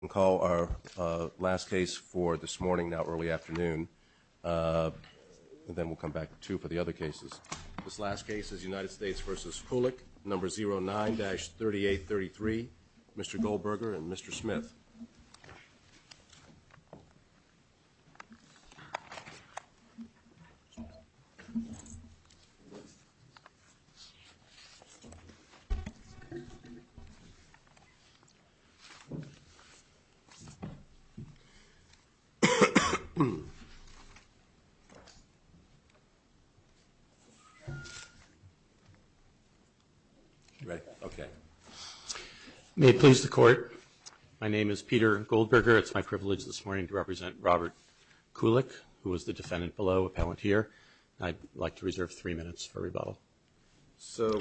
We'll call our last case for this morning, now early afternoon, and then we'll come back to two for the other cases. This last case is United States v. Kulick, number 09-3833, Mr. Goldberger and Mr. Smith. May it please the Court, my name is Peter Goldberger. It's my privilege this morning to represent Robert Kulick, who is the defendant below, appellant here. I'd like to reserve three minutes for rebuttal. So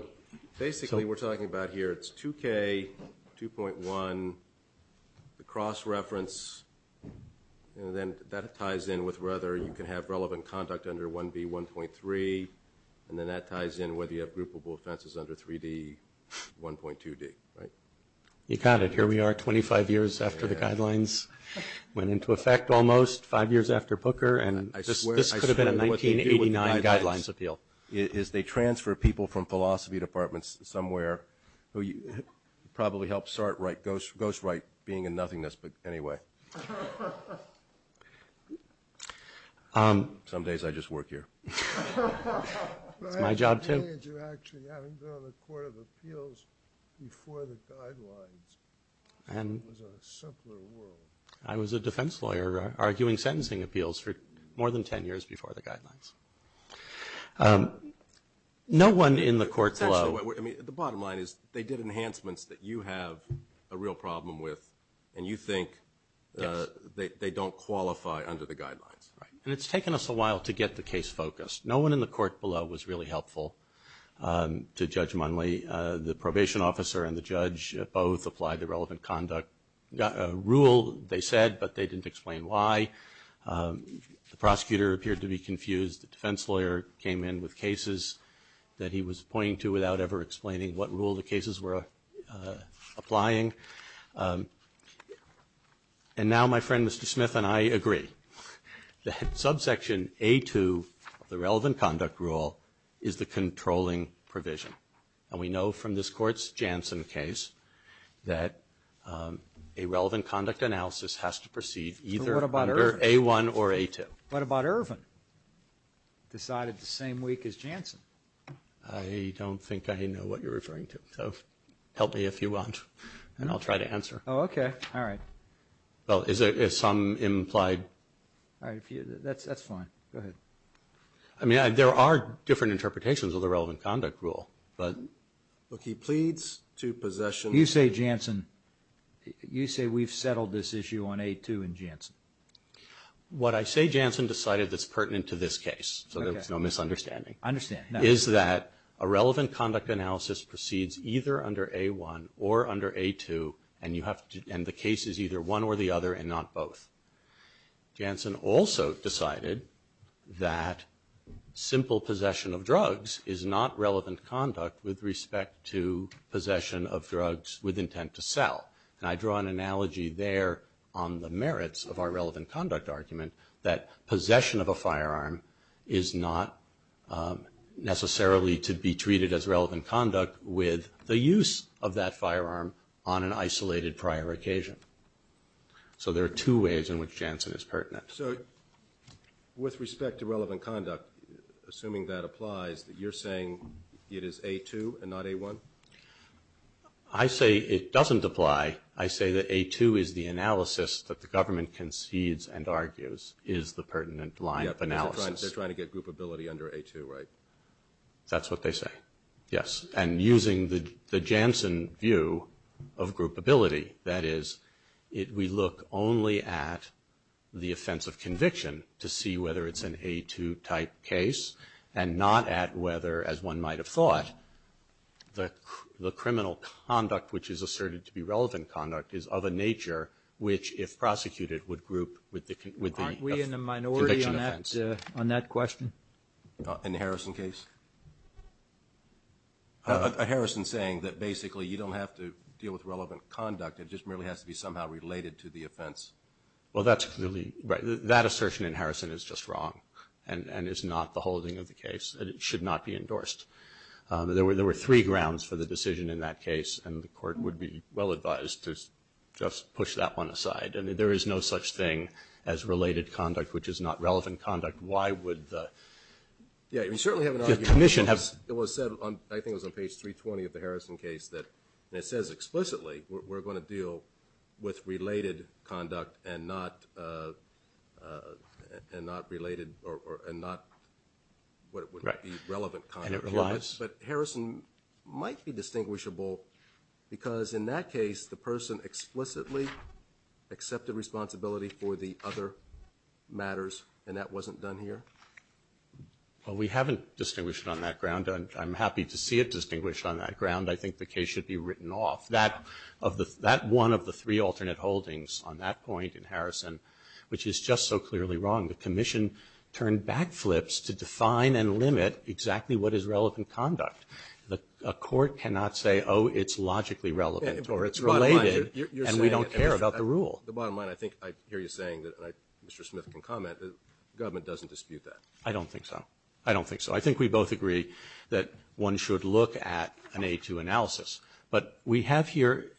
basically we're talking about here, it's 2K, 2.1, the cross-reference, and then that ties in with whether you can have relevant conduct under 1B, 1.3, and then that ties in whether you have groupable offenses under 3D, 1.2D, right? You got it. Here we are, 25 years after the guidelines went into effect almost, five years after Pooker, and this could have been a 1989 guidelines appeal. Is they transfer people from philosophy departments somewhere who probably helped Sartwright ghostwrite being in nothingness, but anyway. Some days I just work here. It's my job too. You actually haven't been on the Court of Appeals before the guidelines, and it was a simpler world. I was a defense lawyer arguing sentencing appeals for more than ten years before the guidelines. No one in the court below... The bottom line is they did enhancements that you have a real problem with, and you think they don't qualify under the guidelines. And it's taken us a while to get the case focused. No one in the court below was really helpful to Judge Munley. The probation officer and the judge both applied the relevant conduct rule, they said, but they didn't explain why. The prosecutor appeared to be confused. The defense lawyer came in with cases that he was pointing to without ever explaining what rule the cases were applying, and now my friend Mr. Smith and I agree. The subsection A2 of the relevant conduct rule is the controlling provision. And we know from this court's Janssen case that a relevant conduct analysis has to proceed either under A1 or A2. What about Irvin? Decided the same week as Janssen. I don't think I know what you're referring to, so help me if you want, and I'll try to answer. Oh, okay. All right. Well, is there some implied... All right, that's fine. Go ahead. I mean, there are different interpretations of the relevant conduct rule, but... Look, he pleads to possession... You say Janssen, you say we've settled this issue on A2 and Janssen. What I say Janssen decided that's pertinent to this case, so there's no misunderstanding. I understand. Is that a relevant conduct analysis proceeds either under A1 or under A2, and you have to, and the case is either one or the other and not both. Janssen also decided that simple possession of drugs is not relevant conduct with respect to possession of drugs with intent to sell. And I draw an analogy there on the merits of our relevant conduct argument that possession of a firearm is not necessarily to be treated as relevant conduct with the use of that firearm on an isolated prior occasion. So there are two ways in which Janssen is pertinent. So with respect to relevant conduct, assuming that applies, that you're saying it is A2 and not A1? I say it doesn't apply. I say that A2 is the analysis that the government concedes and argues is the pertinent line of analysis. They're trying to get groupability under A2, right? That's what they say, yes. And using the Janssen view of groupability, that is, we look only at the offense of conviction to see whether it's an A2-type case and not at whether, as one might have thought, the criminal conduct which is asserted to be relevant conduct is of a nature which, if prosecuted, would group with the conviction offense. Aren't we in the minority on that question? In the Harrison case? Harrison is saying that basically you don't have to deal with relevant conduct. It just merely has to be somehow related to the offense. Well, that's clearly right. That assertion in Harrison is just wrong and is not the holding of the case, and it should not be endorsed. There were three grounds for the decision in that case, and the Court would be well advised to just push that one aside. There is no such thing as related conduct which is not relevant conduct. Why would the commission have? It was said, I think it was on page 320 of the Harrison case, that it says explicitly we're going to deal with related conduct and not what would be relevant conduct. And it relies. But Harrison might be distinguishable because, in that case, the person explicitly accepted responsibility for the other matters, and that wasn't done here. Well, we haven't distinguished on that ground. I'm happy to see it distinguished on that ground. I think the case should be written off. That one of the three alternate holdings on that point in Harrison, which is just so clearly wrong, the commission turned backflips to define and limit exactly what is relevant conduct. A court cannot say, oh, it's logically relevant or it's related, and we don't care about the rule. Well, the bottom line, I think I hear you saying, and Mr. Smith can comment, the government doesn't dispute that. I don't think so. I don't think so. I think we both agree that one should look at an A2 analysis. But we have here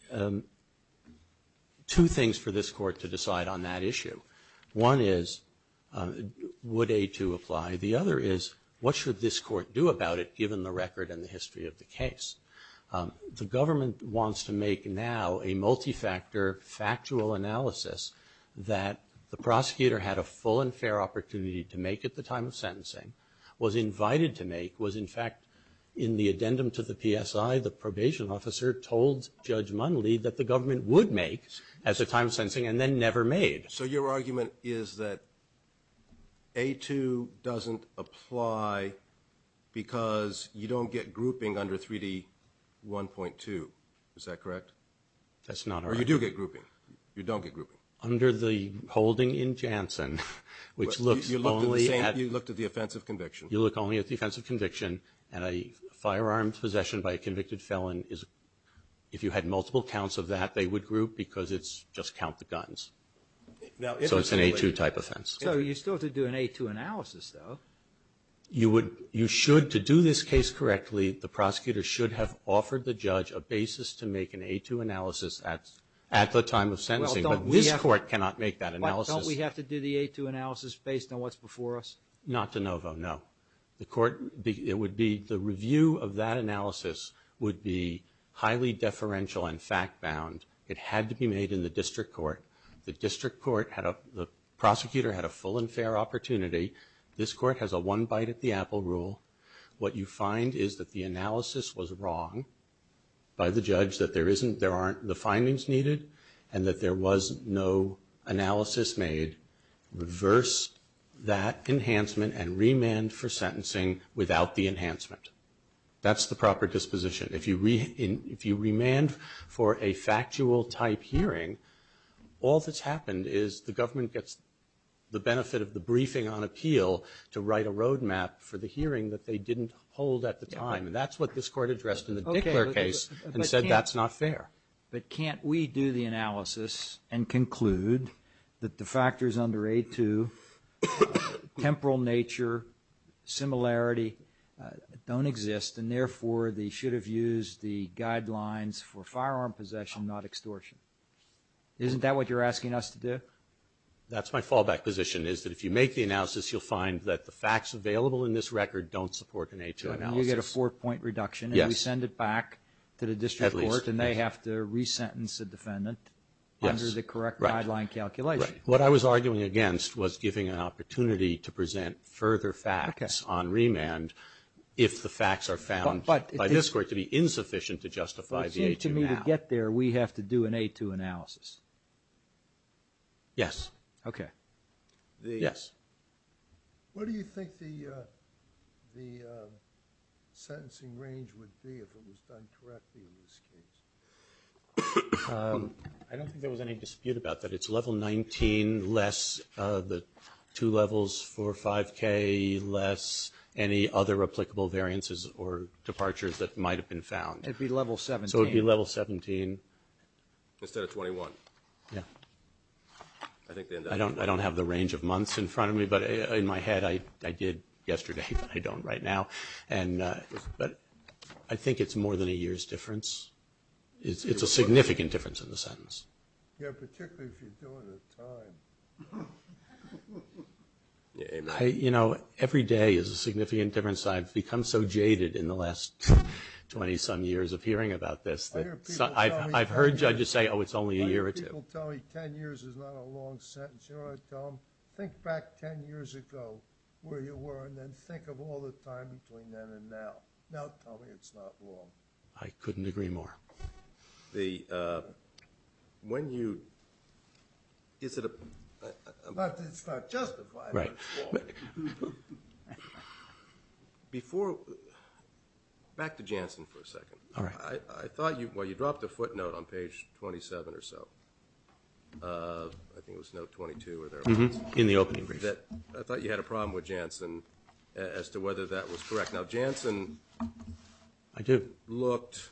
two things for this court to decide on that issue. One is, would A2 apply? The other is, what should this court do about it, given the record and the history of the case? The government wants to make now a multi-factor, factual analysis that the prosecutor had a full and fair opportunity to make at the time of sentencing, was invited to make, was, in fact, in the addendum to the PSI, the probation officer told Judge Munley that the government would make at the time of sentencing and then never made. So your argument is that A2 doesn't apply because you don't get grouping under 3D 1.2, is that correct? That's not right. Or you do get grouping. You don't get grouping. Under the holding in Janssen, which looks only at... You looked at the offense of conviction. You look only at the offense of conviction, and a firearm possession by a convicted felon is, if you had multiple counts of that, they would group because it's just count the guns. So it's an A2 type offense. So you still have to do an A2 analysis, though. You should, to do this case correctly, the prosecutor should have offered the judge a basis to make an A2 analysis at the time of sentencing, but this court cannot make that analysis. But don't we have to do the A2 analysis based on what's before us? Not de novo, no. The review of that analysis would be highly deferential and fact-bound. It had to be made in the district court. The prosecutor had a full and fair opportunity. This court has a one-bite-at-the-apple rule. What you find is that the analysis was wrong by the judge, that there aren't the findings needed, and that there was no analysis made. Reverse that enhancement and remand for sentencing without the enhancement. That's the proper disposition. If you remand for a factual-type hearing, all that's happened is the government gets the benefit of the briefing on appeal to write a roadmap for the hearing that they didn't hold at the time. And that's what this court addressed in the Dickler case and said that's not fair. But can't we do the analysis and conclude that the factors under A2, temporal nature, similarity, don't exist, and therefore they should have used the guidelines for firearm possession, not extortion? Isn't that what you're asking us to do? That's my fallback position, is that if you make the analysis, you'll find that the facts available in this record don't support an A2 analysis. You get a four-point reduction, and we send it back to the district court, and they have to resentence the defendant under the correct guideline calculation. Right. What I was arguing against was giving an opportunity to present further facts on found by this court to be insufficient to justify the A2 analysis. It seems to me to get there, we have to do an A2 analysis. Yes. Okay. Yes. What do you think the sentencing range would be if it was done correctly in this case? I don't think there was any dispute about that. It's level 19 less, the two levels, four or 5K less, any other applicable variances or departures that might have been found. It would be level 17. So it would be level 17. Instead of 21. Yes. I don't have the range of months in front of me, but in my head, I did yesterday, but I don't right now. But I think it's more than a year's difference. It's a significant difference in the sentence. Yeah, particularly if you're doing it in time. You know, every day is a significant difference. I've become so jaded in the last 20-some years of hearing about this. I've heard judges say, oh, it's only a year or two. I hear people tell me 10 years is not a long sentence. You know what I tell them? Think back 10 years ago where you were and then think of all the time between then and now. Now tell me it's not long. I couldn't agree more. When you – is it a – But it's not justified. Right. Before – back to Jansen for a second. All right. I thought you – well, you dropped a footnote on page 27 or so. I think it was note 22 or thereabouts. In the opening brief. I thought you had a problem with Jansen as to whether that was correct. Now, Jansen. I do. You looked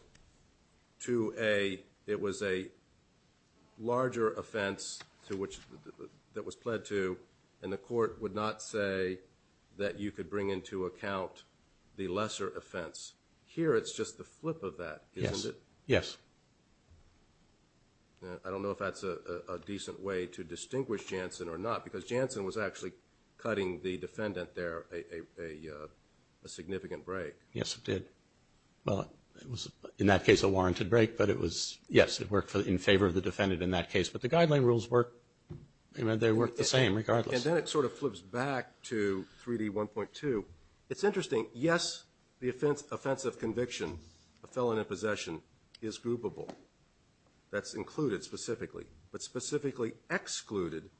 to a – it was a larger offense that was pled to and the court would not say that you could bring into account the lesser offense. Here it's just the flip of that, isn't it? Yes. Yes. I don't know if that's a decent way to distinguish Jansen or not because Jansen was actually cutting the defendant there a significant break. Yes, it did. Well, it was in that case a warranted break, but it was – yes, it worked in favor of the defendant in that case. But the guideline rules work – they work the same regardless. And then it sort of flips back to 3D1.2. It's interesting. Yes, the offense of conviction, a felon in possession, is groupable. That's included specifically. But specifically excluded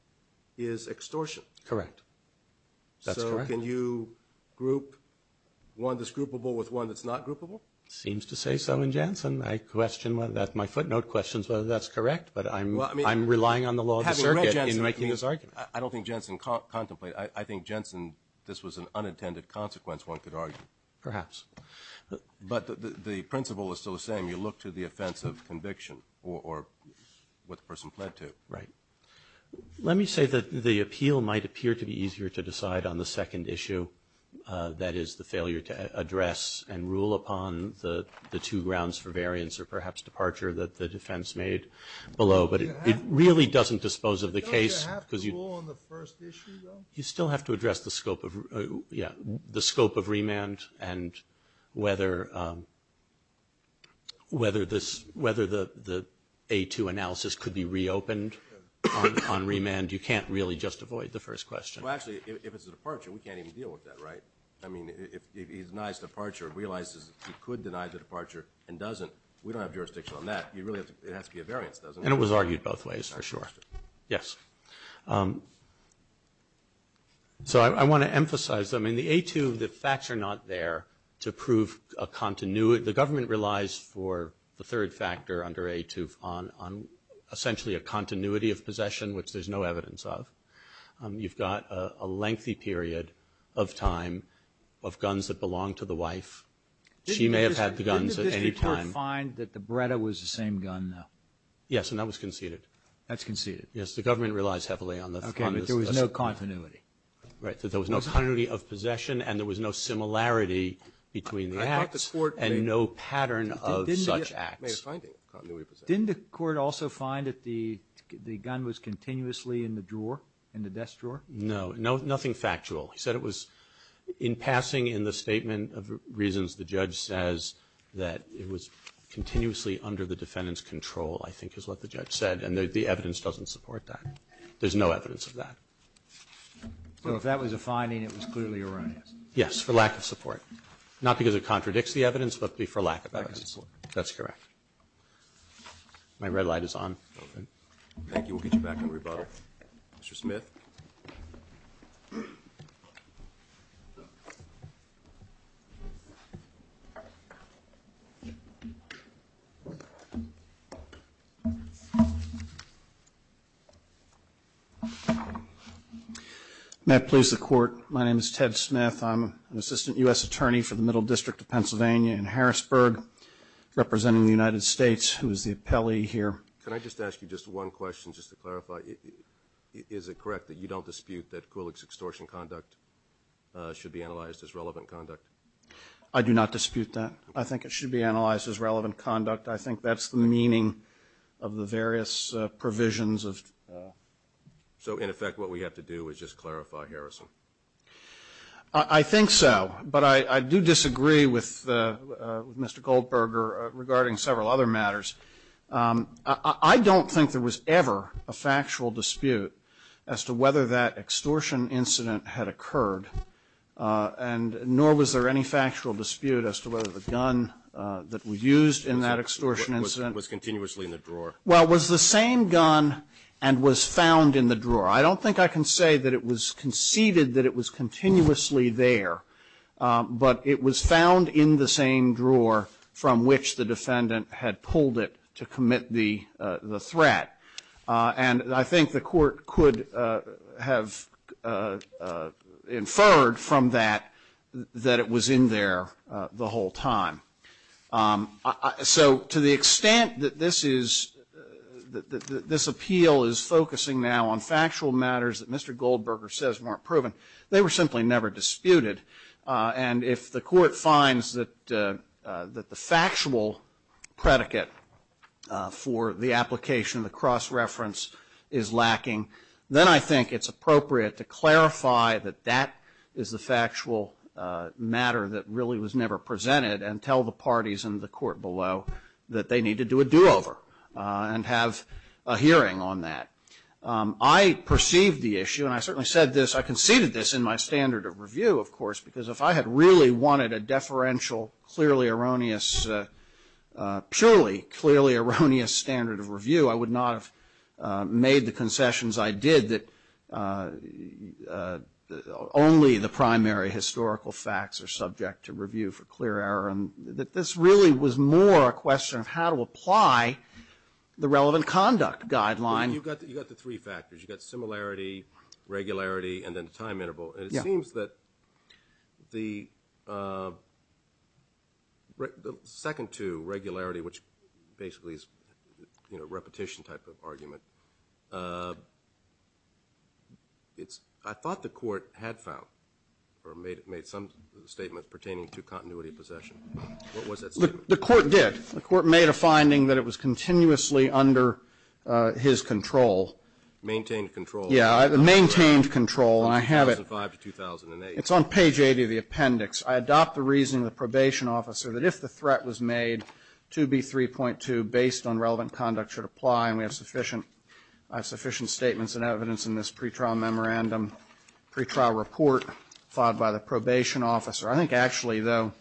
is extortion. Correct. That's correct. Can you group one that's groupable with one that's not groupable? It seems to say so in Jansen. I question whether that's – my footnote questions whether that's correct, but I'm relying on the law of the circuit in making this argument. I don't think Jansen contemplated – I think Jansen, this was an unintended consequence, one could argue. Perhaps. But the principle is still the same. You look to the offense of conviction or what the person pled to. Right. Let me say that the appeal might appear to be easier to decide on the second issue, that is, the failure to address and rule upon the two grounds for variance or perhaps departure that the defense made below. But it really doesn't dispose of the case. But don't you have to rule on the first issue, though? You still have to address the scope of – yeah, the scope of remand and whether the A2 analysis could be reopened on remand. You can't really just avoid the first question. Well, actually, if it's a departure, we can't even deal with that, right? I mean, if he denies departure and realizes he could deny the departure and doesn't, we don't have jurisdiction on that. It has to be a variance, doesn't it? And it was argued both ways, for sure. Yes. So I want to emphasize. I mean, the A2, the facts are not there to prove a continuity. The government relies for the third factor under A2 on essentially a continuity of possession, which there's no evidence of. You've got a lengthy period of time of guns that belong to the wife. She may have had the guns at any time. Did the district court find that the Beretta was the same gun, though? Yes, and that was conceded. That's conceded? Yes, the government relies heavily on the – Okay, but there was no continuity. Right. There was no continuity of possession and there was no similarity between the acts and no pattern of such acts. Didn't the court also find that the gun was continuously in the drawer, in the desk drawer? No. Nothing factual. He said it was in passing in the statement of reasons the judge says that it was continuously under the defendant's control, I think is what the judge said, and the evidence doesn't support that. There's no evidence of that. So if that was a finding, it was clearly erroneous? Yes, for lack of support. Not because it contradicts the evidence, but for lack of evidence. For lack of support. That's correct. My red light is on. Okay. Thank you. We'll get you back in rebuttal. Mr. Smith. May I please the court? My name is Ted Smith. I'm an assistant U.S. attorney for the Middle District of Pennsylvania in Harrisburg, representing the United States, who is the appellee here. Can I just ask you just one question, just to clarify? Is it correct that you don't dispute that Kulik's extortion conduct should be analyzed as relevant conduct? I do not dispute that. I think it should be analyzed as relevant conduct. I think that's the meaning of the various provisions. So, in effect, what we have to do is just clarify, Harrison? I think so. But I do disagree with Mr. Goldberger regarding several other matters. I don't think there was ever a factual dispute as to whether that extortion incident had occurred, and nor was there any factual dispute as to whether the gun that was used in that extortion incident was continuously in the drawer. Well, it was the same gun and was found in the drawer. I don't think I can say that it was conceded that it was continuously there, but it was found in the same drawer from which the defendant had pulled it to commit the threat. And I think the Court could have inferred from that that it was in there the whole time. So to the extent that this is, that this appeal is focusing now on factual matters that Mr. Goldberger says weren't proven, they were simply never disputed. And if the Court finds that the factual predicate for the application, the cross-reference, is lacking, then I think it's appropriate to clarify that that is the factual matter that really was never presented and tell the parties in the Court below that they need to do a do-over and have a hearing on that. I perceived the issue, and I certainly said this, I conceded this in my standard of review, of course, because if I had really wanted a deferential, clearly erroneous, purely clearly erroneous standard of review, I would not have made the concessions I did that only the primary historical facts are subject to review for clear error, and that this really was more a question of how to apply the relevant conduct guideline. You've got the three factors. You've got similarity, regularity, and then the time interval. And it seems that the second two, regularity, which basically is a repetition type of argument, I thought the Court had found or made some statements pertaining to continuity of possession. What was that statement? The Court did. The Court made a finding that it was continuously under his control. Maintained control. Yeah, maintained control. And I have it. From 2005 to 2008. It's on page 80 of the appendix. I adopt the reasoning of the probation officer that if the threat was made to be 3.2, based on relevant conduct should apply, and we have sufficient statements and evidence in this pretrial memorandum, pretrial report filed by the probation officer. I think actually, though,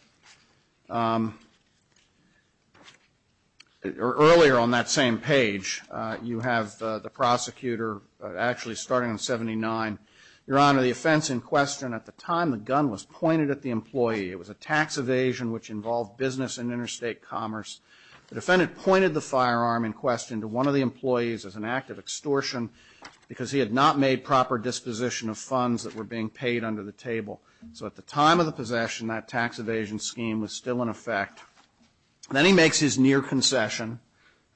earlier on that same page, you have the prosecutor actually starting on 79. Your Honor, the offense in question at the time, the gun was pointed at the employee. It was a tax evasion which involved business and interstate commerce. The defendant pointed the firearm in question to one of the employees as an act of extortion because he had not made proper disposition of funds that were being paid under the table. So at the time of the possession, that tax evasion scheme was still in effect. Then he makes his near concession.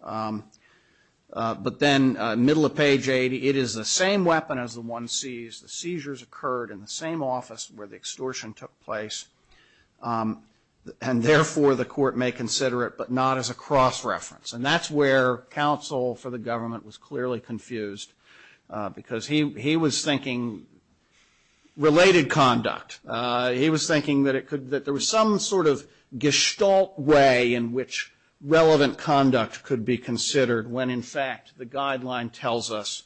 But then, middle of page 80, it is the same weapon as the one seized. The seizures occurred in the same office where the extortion took place. And therefore, the court may consider it, but not as a cross reference. And that's where counsel for the government was clearly confused because he was thinking related conduct. He was thinking that there was some sort of gestalt way in which relevant conduct could be considered when, in fact, the guideline tells us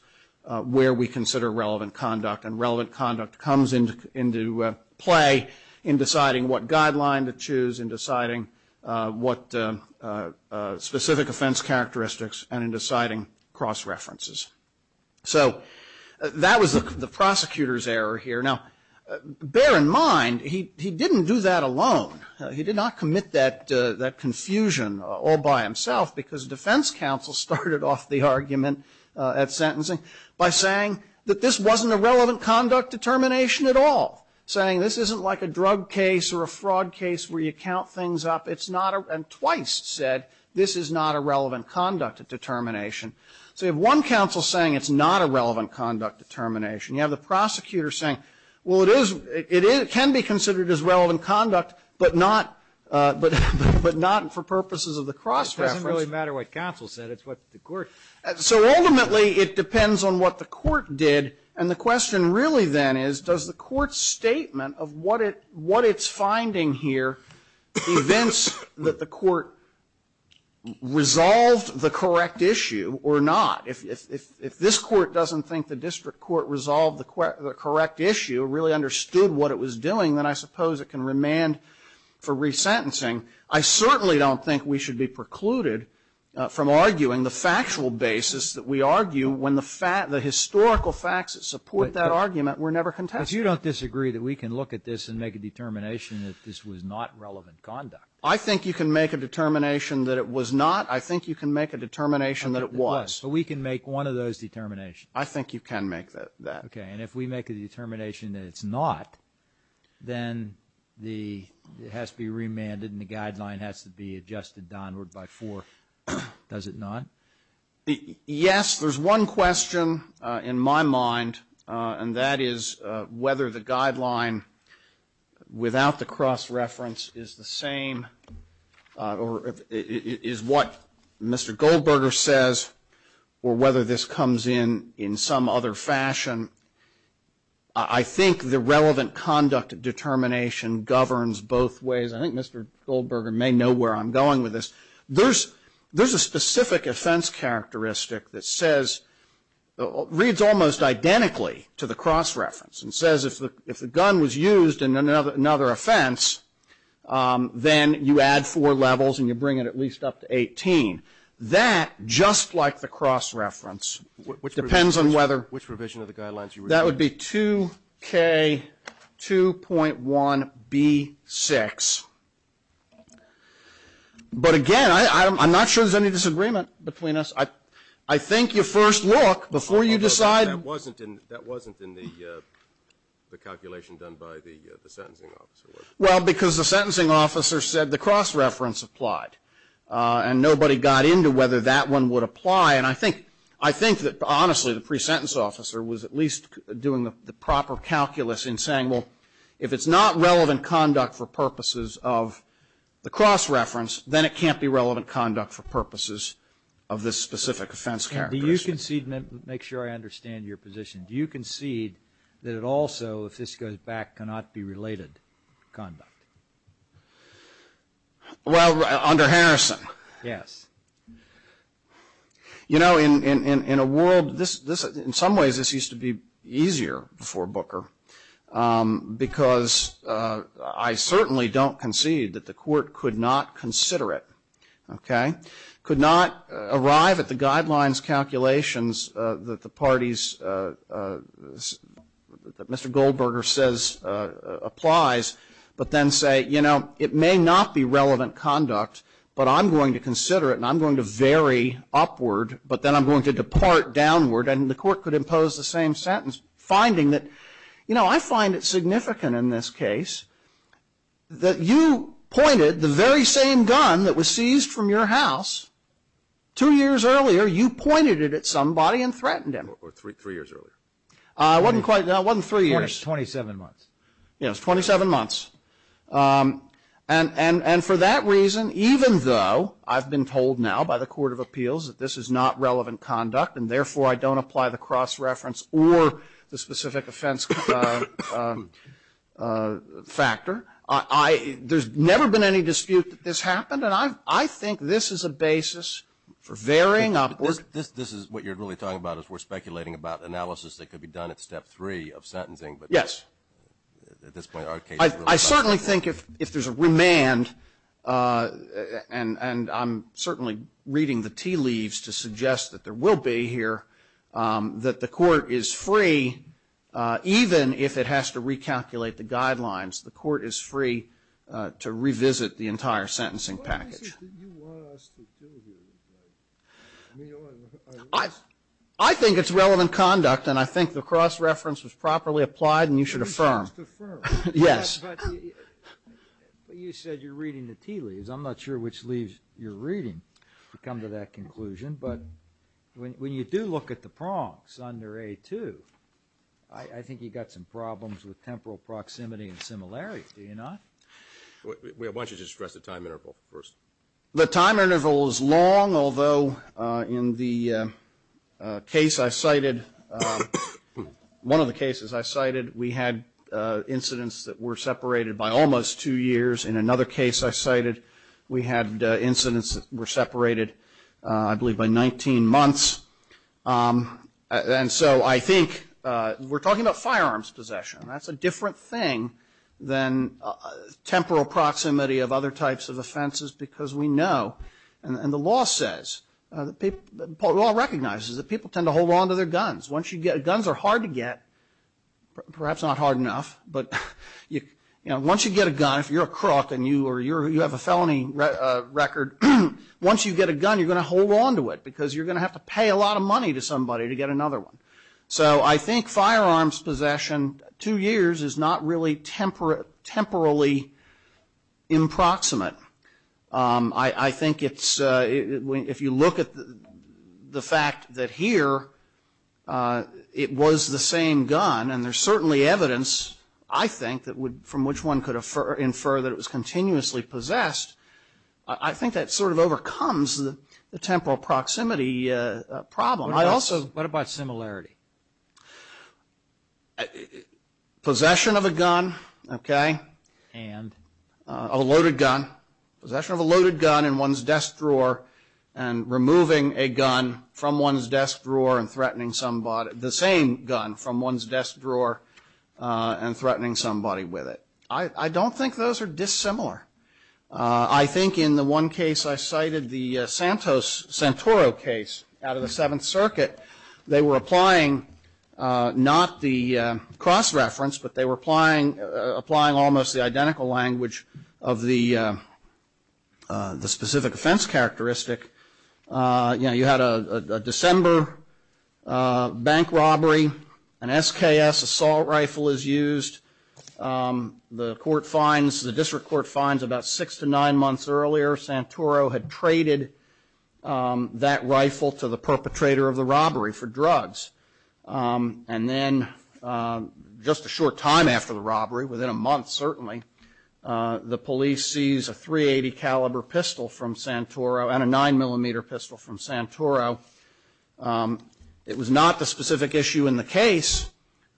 where we consider relevant conduct. And relevant conduct comes into play in deciding what guideline to choose, in deciding what specific offense characteristics, and in deciding cross references. So that was the prosecutor's error here. Now, bear in mind, he didn't do that alone. He did not commit that confusion all by himself because defense counsel started off the argument at sentencing by saying that this wasn't a relevant conduct determination at all. Saying this isn't like a drug case or a fraud case where you count things up. It's not a, and twice said, this is not a relevant conduct determination. So you have one counsel saying it's not a relevant conduct determination. You have the prosecutor saying, well, it is, it can be considered as relevant conduct, but not, but not for purposes of the cross reference. It doesn't really matter what counsel said. It's what the court. So ultimately, it depends on what the court did. And the question really then is, does the court's statement of what it, what it's finding here events that the court resolved the correct issue or not? If this court doesn't think the district court resolved the correct issue, really understood what it was doing, then I suppose it can remand for resentencing. I certainly don't think we should be precluded from arguing the factual basis that we argue when the historical facts that support that argument were never contested. But you don't disagree that we can look at this and make a determination that this was not relevant conduct? I think you can make a determination that it was not. I think you can make a determination that it was. But we can make one of those determinations. I think you can make that. Okay. And if we make a determination that it's not, then the, it has to be remanded and the guideline has to be adjusted downward by four. Does it not? Yes. There's one question in my mind, and that is whether the guideline without the cross reference is the same, or is what Mr. Goldberger says, or whether this comes in in some other fashion. I think the relevant conduct determination governs both ways. I think Mr. Goldberger may know where I'm going with this. There's a specific offense characteristic that says, reads almost identically to the other offense, then you add four levels and you bring it at least up to 18. That, just like the cross reference, depends on whether that would be 2K2.1B6. But, again, I'm not sure there's any disagreement between us. I think your first look, before you decide. That wasn't in the calculation done by the sentencing officer. Well, because the sentencing officer said the cross reference applied, and nobody got into whether that one would apply. And I think that, honestly, the pre-sentence officer was at least doing the proper calculus in saying, well, if it's not relevant conduct for purposes of the cross reference, then it can't be relevant conduct for purposes of this specific offense characteristic. Do you concede, make sure I understand your position, do you concede that it also, if this goes back, cannot be related conduct? Well, under Harrison. Yes. You know, in a world, in some ways this used to be easier before Booker, because I certainly don't concede that the court could not consider it, okay? Could not arrive at the guidelines calculations that the parties, that Mr. Goldberger says applies, but then say, you know, it may not be relevant conduct, but I'm going to consider it, and I'm going to vary upward, but then I'm going to depart downward. And the court could impose the same sentence, finding that, you know, I find it significant in this case that you pointed the very same gun that was two years earlier, you pointed it at somebody and threatened them. Or three years earlier. It wasn't three years. 27 months. Yes, 27 months. And for that reason, even though I've been told now by the court of appeals that this is not relevant conduct, and therefore I don't apply the cross reference or the specific offense factor, I, there's never been any dispute that this happened, and I think this is a basis for varying upward. This is what you're really talking about, is we're speculating about analysis that could be done at step three of sentencing. Yes. I certainly think if there's a remand, and I'm certainly reading the tea leaves to suggest that there will be here, that the court is free, even if it has to recalculate the guidelines, the court is free to revisit the entire sentencing package. What is it that you want us to do here? I think it's relevant conduct, and I think the cross reference was properly applied, and you should affirm. We have to affirm. Yes. But you said you're reading the tea leaves. I'm not sure which leaves you're reading to come to that conclusion. But when you do look at the prongs under A2, I think you've got some problems with temporal proximity and similarity, do you not? Why don't you just stress the time interval first? The time interval is long, although in the case I cited, one of the cases I cited, we had incidents that were separated by almost two years. In another case I cited, we had incidents that were separated, I believe, by 19 months. And so I think we're talking about firearms possession, and that's a different thing than temporal proximity of other types of offenses, because we know, and the law says, the law recognizes, that people tend to hold on to their guns. Guns are hard to get, perhaps not hard enough, but once you get a gun, if you're a crook and you have a felony record, once you get a gun, you're going to hold on to it, because you're going to have to pay a lot of money to somebody to get another one. So I think firearms possession, two years, is not really temporally improximate. I think it's, if you look at the fact that here, it was the same gun, and there's certainly evidence, I think, from which one could infer that it was continuously possessed. I think that sort of overcomes the temporal proximity problem. What about similarity? Possession of a gun, okay? And? A loaded gun. Possession of a loaded gun in one's desk drawer, and removing a gun from one's desk drawer and threatening somebody, the same gun from one's desk drawer and threatening somebody with it. I don't think those are dissimilar. I think in the one case I cited, the Santos-Santoro case out of the Seventh Circuit, they were applying not the cross-reference, but they were applying almost the identical language of the specific offense characteristic. You know, you had a December bank robbery, an SKS assault rifle is used. The court finds, the district court finds about six to nine months earlier, Santoro had traded that rifle to the perpetrator of the robbery for drugs. And then just a short time after the robbery, within a month certainly, the police seize a .380 caliber pistol from Santoro and a 9mm pistol from Santoro. It was not the specific issue in the case,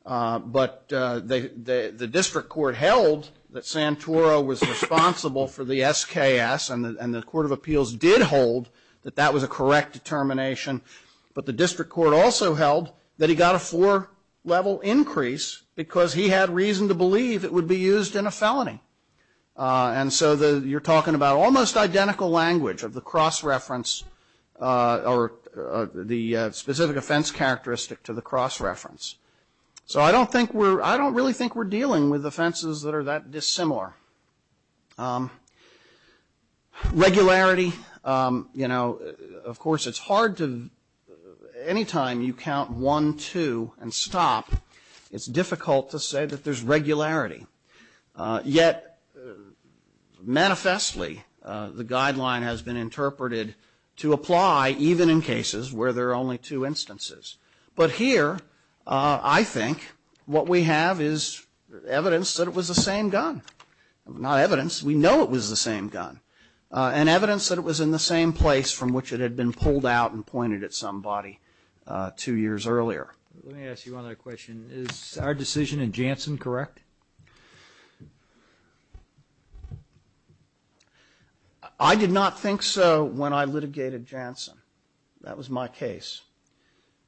but the district court held that Santoro was responsible for the SKS, and the court of appeals did hold that that was a correct determination. But the district court also held that he got a four-level increase because he had reason to believe it would be used in a felony. And so you're talking about almost identical language of the cross-reference or the specific offense characteristic to the cross-reference. So I don't think we're, I don't really think we're dealing with offenses that are that dissimilar. Regularity, you know, of course it's hard to, anytime you count one, two, and stop, it's difficult to say that there's regularity. Yet, manifestly, the guideline has been interpreted to apply even in cases where there are only two instances. But here, I think, what we have is evidence that it was the same gun. Not evidence, we know it was the same gun. And evidence that it was in the same place from which it had been pulled out and pointed at somebody two years earlier. Let me ask you another question. Is our decision in Janssen correct? I did not think so when I litigated Janssen. That was my case.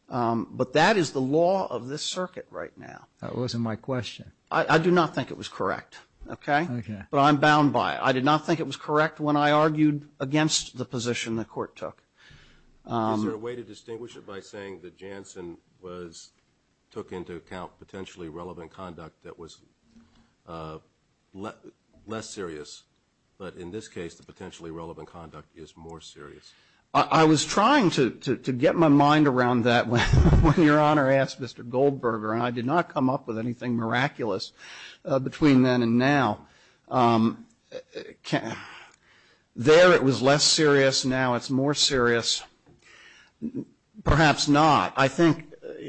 But that is the law of this circuit right now. That wasn't my question. I do not think it was correct, okay? Okay. But I'm bound by it. I did not think it was correct when I argued against the position the court took. Is there a way to distinguish it by saying that Janssen was, took into account potentially relevant conduct that was less serious? But in this case, the potentially relevant conduct is more serious. I was trying to get my mind around that when Your Honor asked Mr. Goldberger, and I did not come up with anything miraculous between then and now. There it was less serious. Now it's more serious. Perhaps not. I think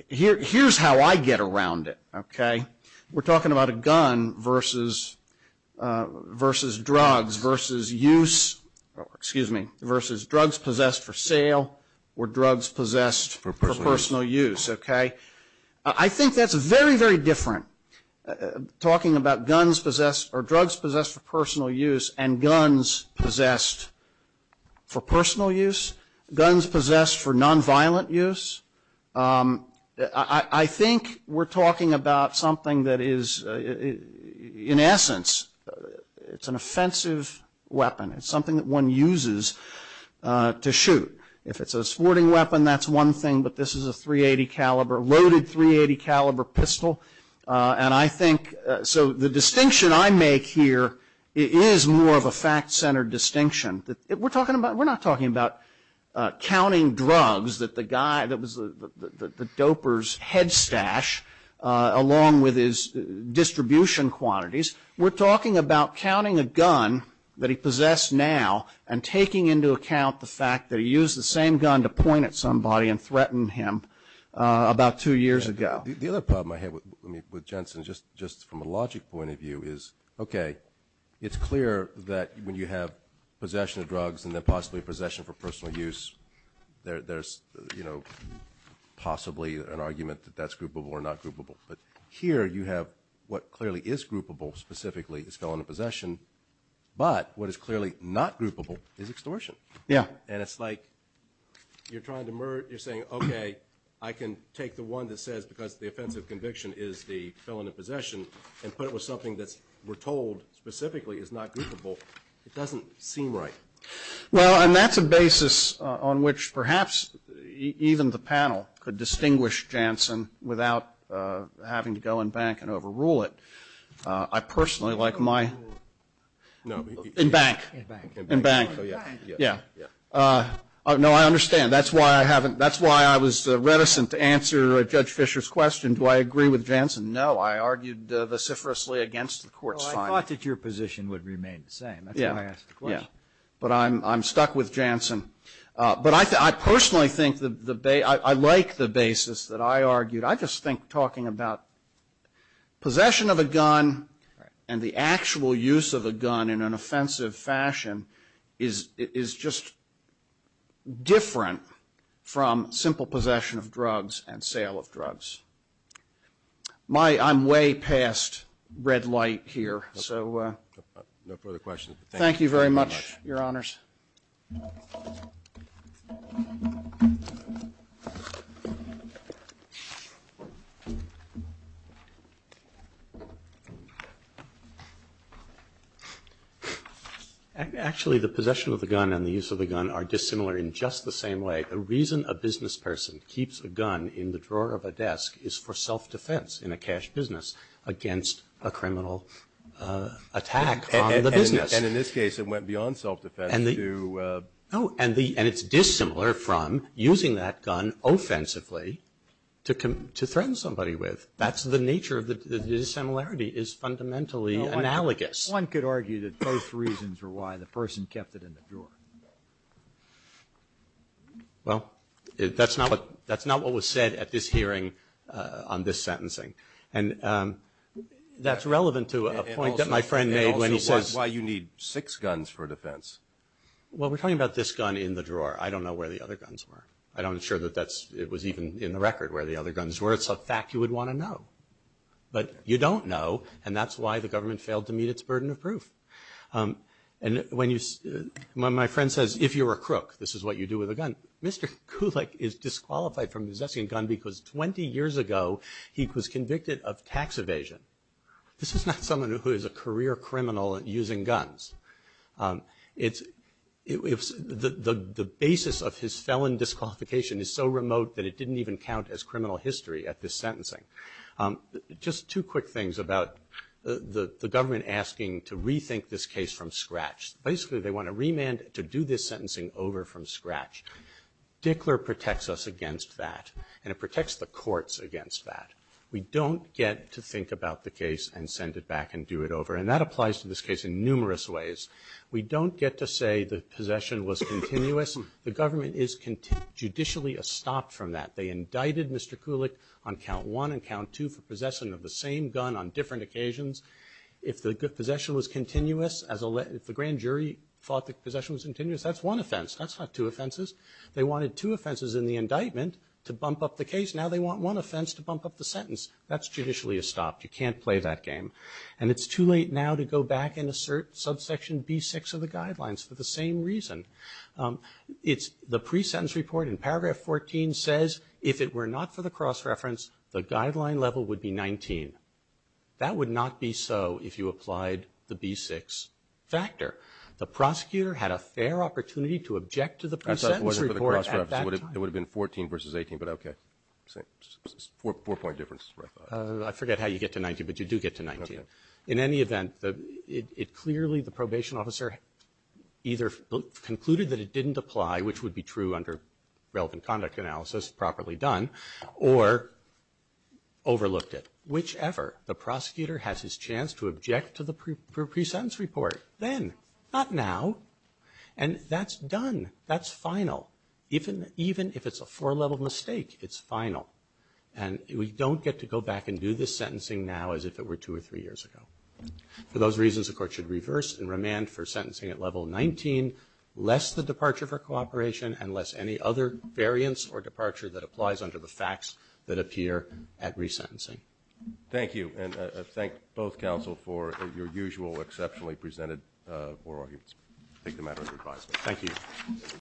here's how I get around it, okay? We're talking about a gun versus drugs, versus use, excuse me, versus drugs possessed for sale or drugs possessed for personal use, okay? I think that's very, very different, talking about guns possessed or drugs possessed for personal use and guns possessed for personal use, guns possessed for nonviolent use. I think we're talking about something that is, in essence, it's an offensive weapon. It's something that one uses to shoot. If it's a sporting weapon, that's one thing. But this is a .380 caliber, loaded .380 caliber pistol. And I think, so the distinction I make here is more of a fact-centered distinction. We're talking about, we're not talking about counting drugs that the guy, that was the doper's head stash along with his distribution quantities. We're talking about counting a gun that he possessed now and taking into account the fact that he used the same gun to point at somebody and threaten him about two years ago. The other problem I have with Jensen, just from a logic point of view, is, okay, it's clear that when you have possession of drugs and then possibly possession for personal use, there's possibly an argument that that's groupable or not groupable. But here you have what clearly is groupable specifically, is felon in possession, but what is clearly not groupable is extortion. Yeah. And it's like you're trying to merge, you're saying, okay, I can take the one that says because the offensive conviction is the felon in possession and put it with something that we're told specifically is not groupable. It doesn't seem right. Well, and that's a basis on which perhaps even the panel could distinguish Jensen without having to go and bank and overrule it. I personally like my ‑‑ No. In bank. In bank. In bank. Oh, yeah. Yeah. No, I understand. That's why I haven't ‑‑ that's why I was reticent to answer Judge Fischer's question, do I agree with Jensen? No, I argued vociferously against the court's finding. Well, I thought that your position would remain the same. Yeah. That's why I asked the question. Yeah. But I'm stuck with Jensen. But I personally think the ‑‑ I like the basis that I argued. I just think talking about possession of a gun and the actual use of a gun in an offensive fashion is just different from simple possession of drugs and sale of drugs. My ‑‑ I'm way past red light here, so. No further questions. Thank you very much, Your Honors. Actually, the possession of the gun and the use of the gun are dissimilar in just the same way. The reason a business person keeps a gun in the drawer of a desk is for self defense in a cash business against a criminal attack on the business. And in this case, it went beyond self defense. Oh, and it's dissimilar from using that gun offensively to threaten somebody with. That's the nature of the dissimilarity is fundamentally analogous. One could argue that both reasons are why the person kept it in the drawer. Well, that's not what was said at this hearing on this sentencing. And that's relevant to a point that my friend made when he says ‑‑ well, we're talking about this gun in the drawer. I don't know where the other guns were. I don't ensure that that's ‑‑ it was even in the record where the other guns were. It's a fact you would want to know. But you don't know, and that's why the government failed to meet its burden of proof. And when you ‑‑ my friend says, if you're a crook, this is what you do with a gun. Mr. Kulik is disqualified from possessing a gun because 20 years ago he was convicted of tax evasion. This is not someone who is a career criminal using guns. It's ‑‑ the basis of his felon disqualification is so remote that it didn't even count as criminal history at this sentencing. Just two quick things about the government asking to rethink this case from scratch. Basically, they want a remand to do this sentencing over from scratch. Dickler protects us against that, and it protects the courts against that. We don't get to think about the case and send it back and do it over. And that applies to this case in numerous ways. We don't get to say the possession was continuous. The government is judicially estopped from that. They indicted Mr. Kulik on count one and count two for possession of the same gun on different occasions. If the possession was continuous, if the grand jury thought the possession was continuous, that's one offense. That's not two offenses. They wanted two offenses in the indictment to bump up the case. Now they want one offense to bump up the sentence. That's judicially estopped. You can't play that game. And it's too late now to go back and assert subsection B6 of the guidelines for the same reason. It's the pre-sentence report in paragraph 14 says if it were not for the cross reference, the guideline level would be 19. That would not be so if you applied the B6 factor. The prosecutor had a fair opportunity to object to the pre-sentence report at that time. It would have been 14 versus 18, but okay. Four-point difference. I forget how you get to 19, but you do get to 19. In any event, it clearly, the probation officer either concluded that it didn't apply, which would be true under relevant conduct analysis, properly done, or overlooked it. Whichever, the prosecutor has his chance to object to the pre-sentence report then, not now. And that's done. That's final. Even if it's a four-level mistake, it's final. And we don't get to go back and do this sentencing now as if it were two or three years ago. For those reasons, the court should reverse and remand for sentencing at level 19, less the departure for cooperation and less any other variance or departure that applies under the facts that appear at resentencing. Thank you. And I thank both counsel for your usual exceptionally presented oral arguments. I take the matter under advisement. Thank you.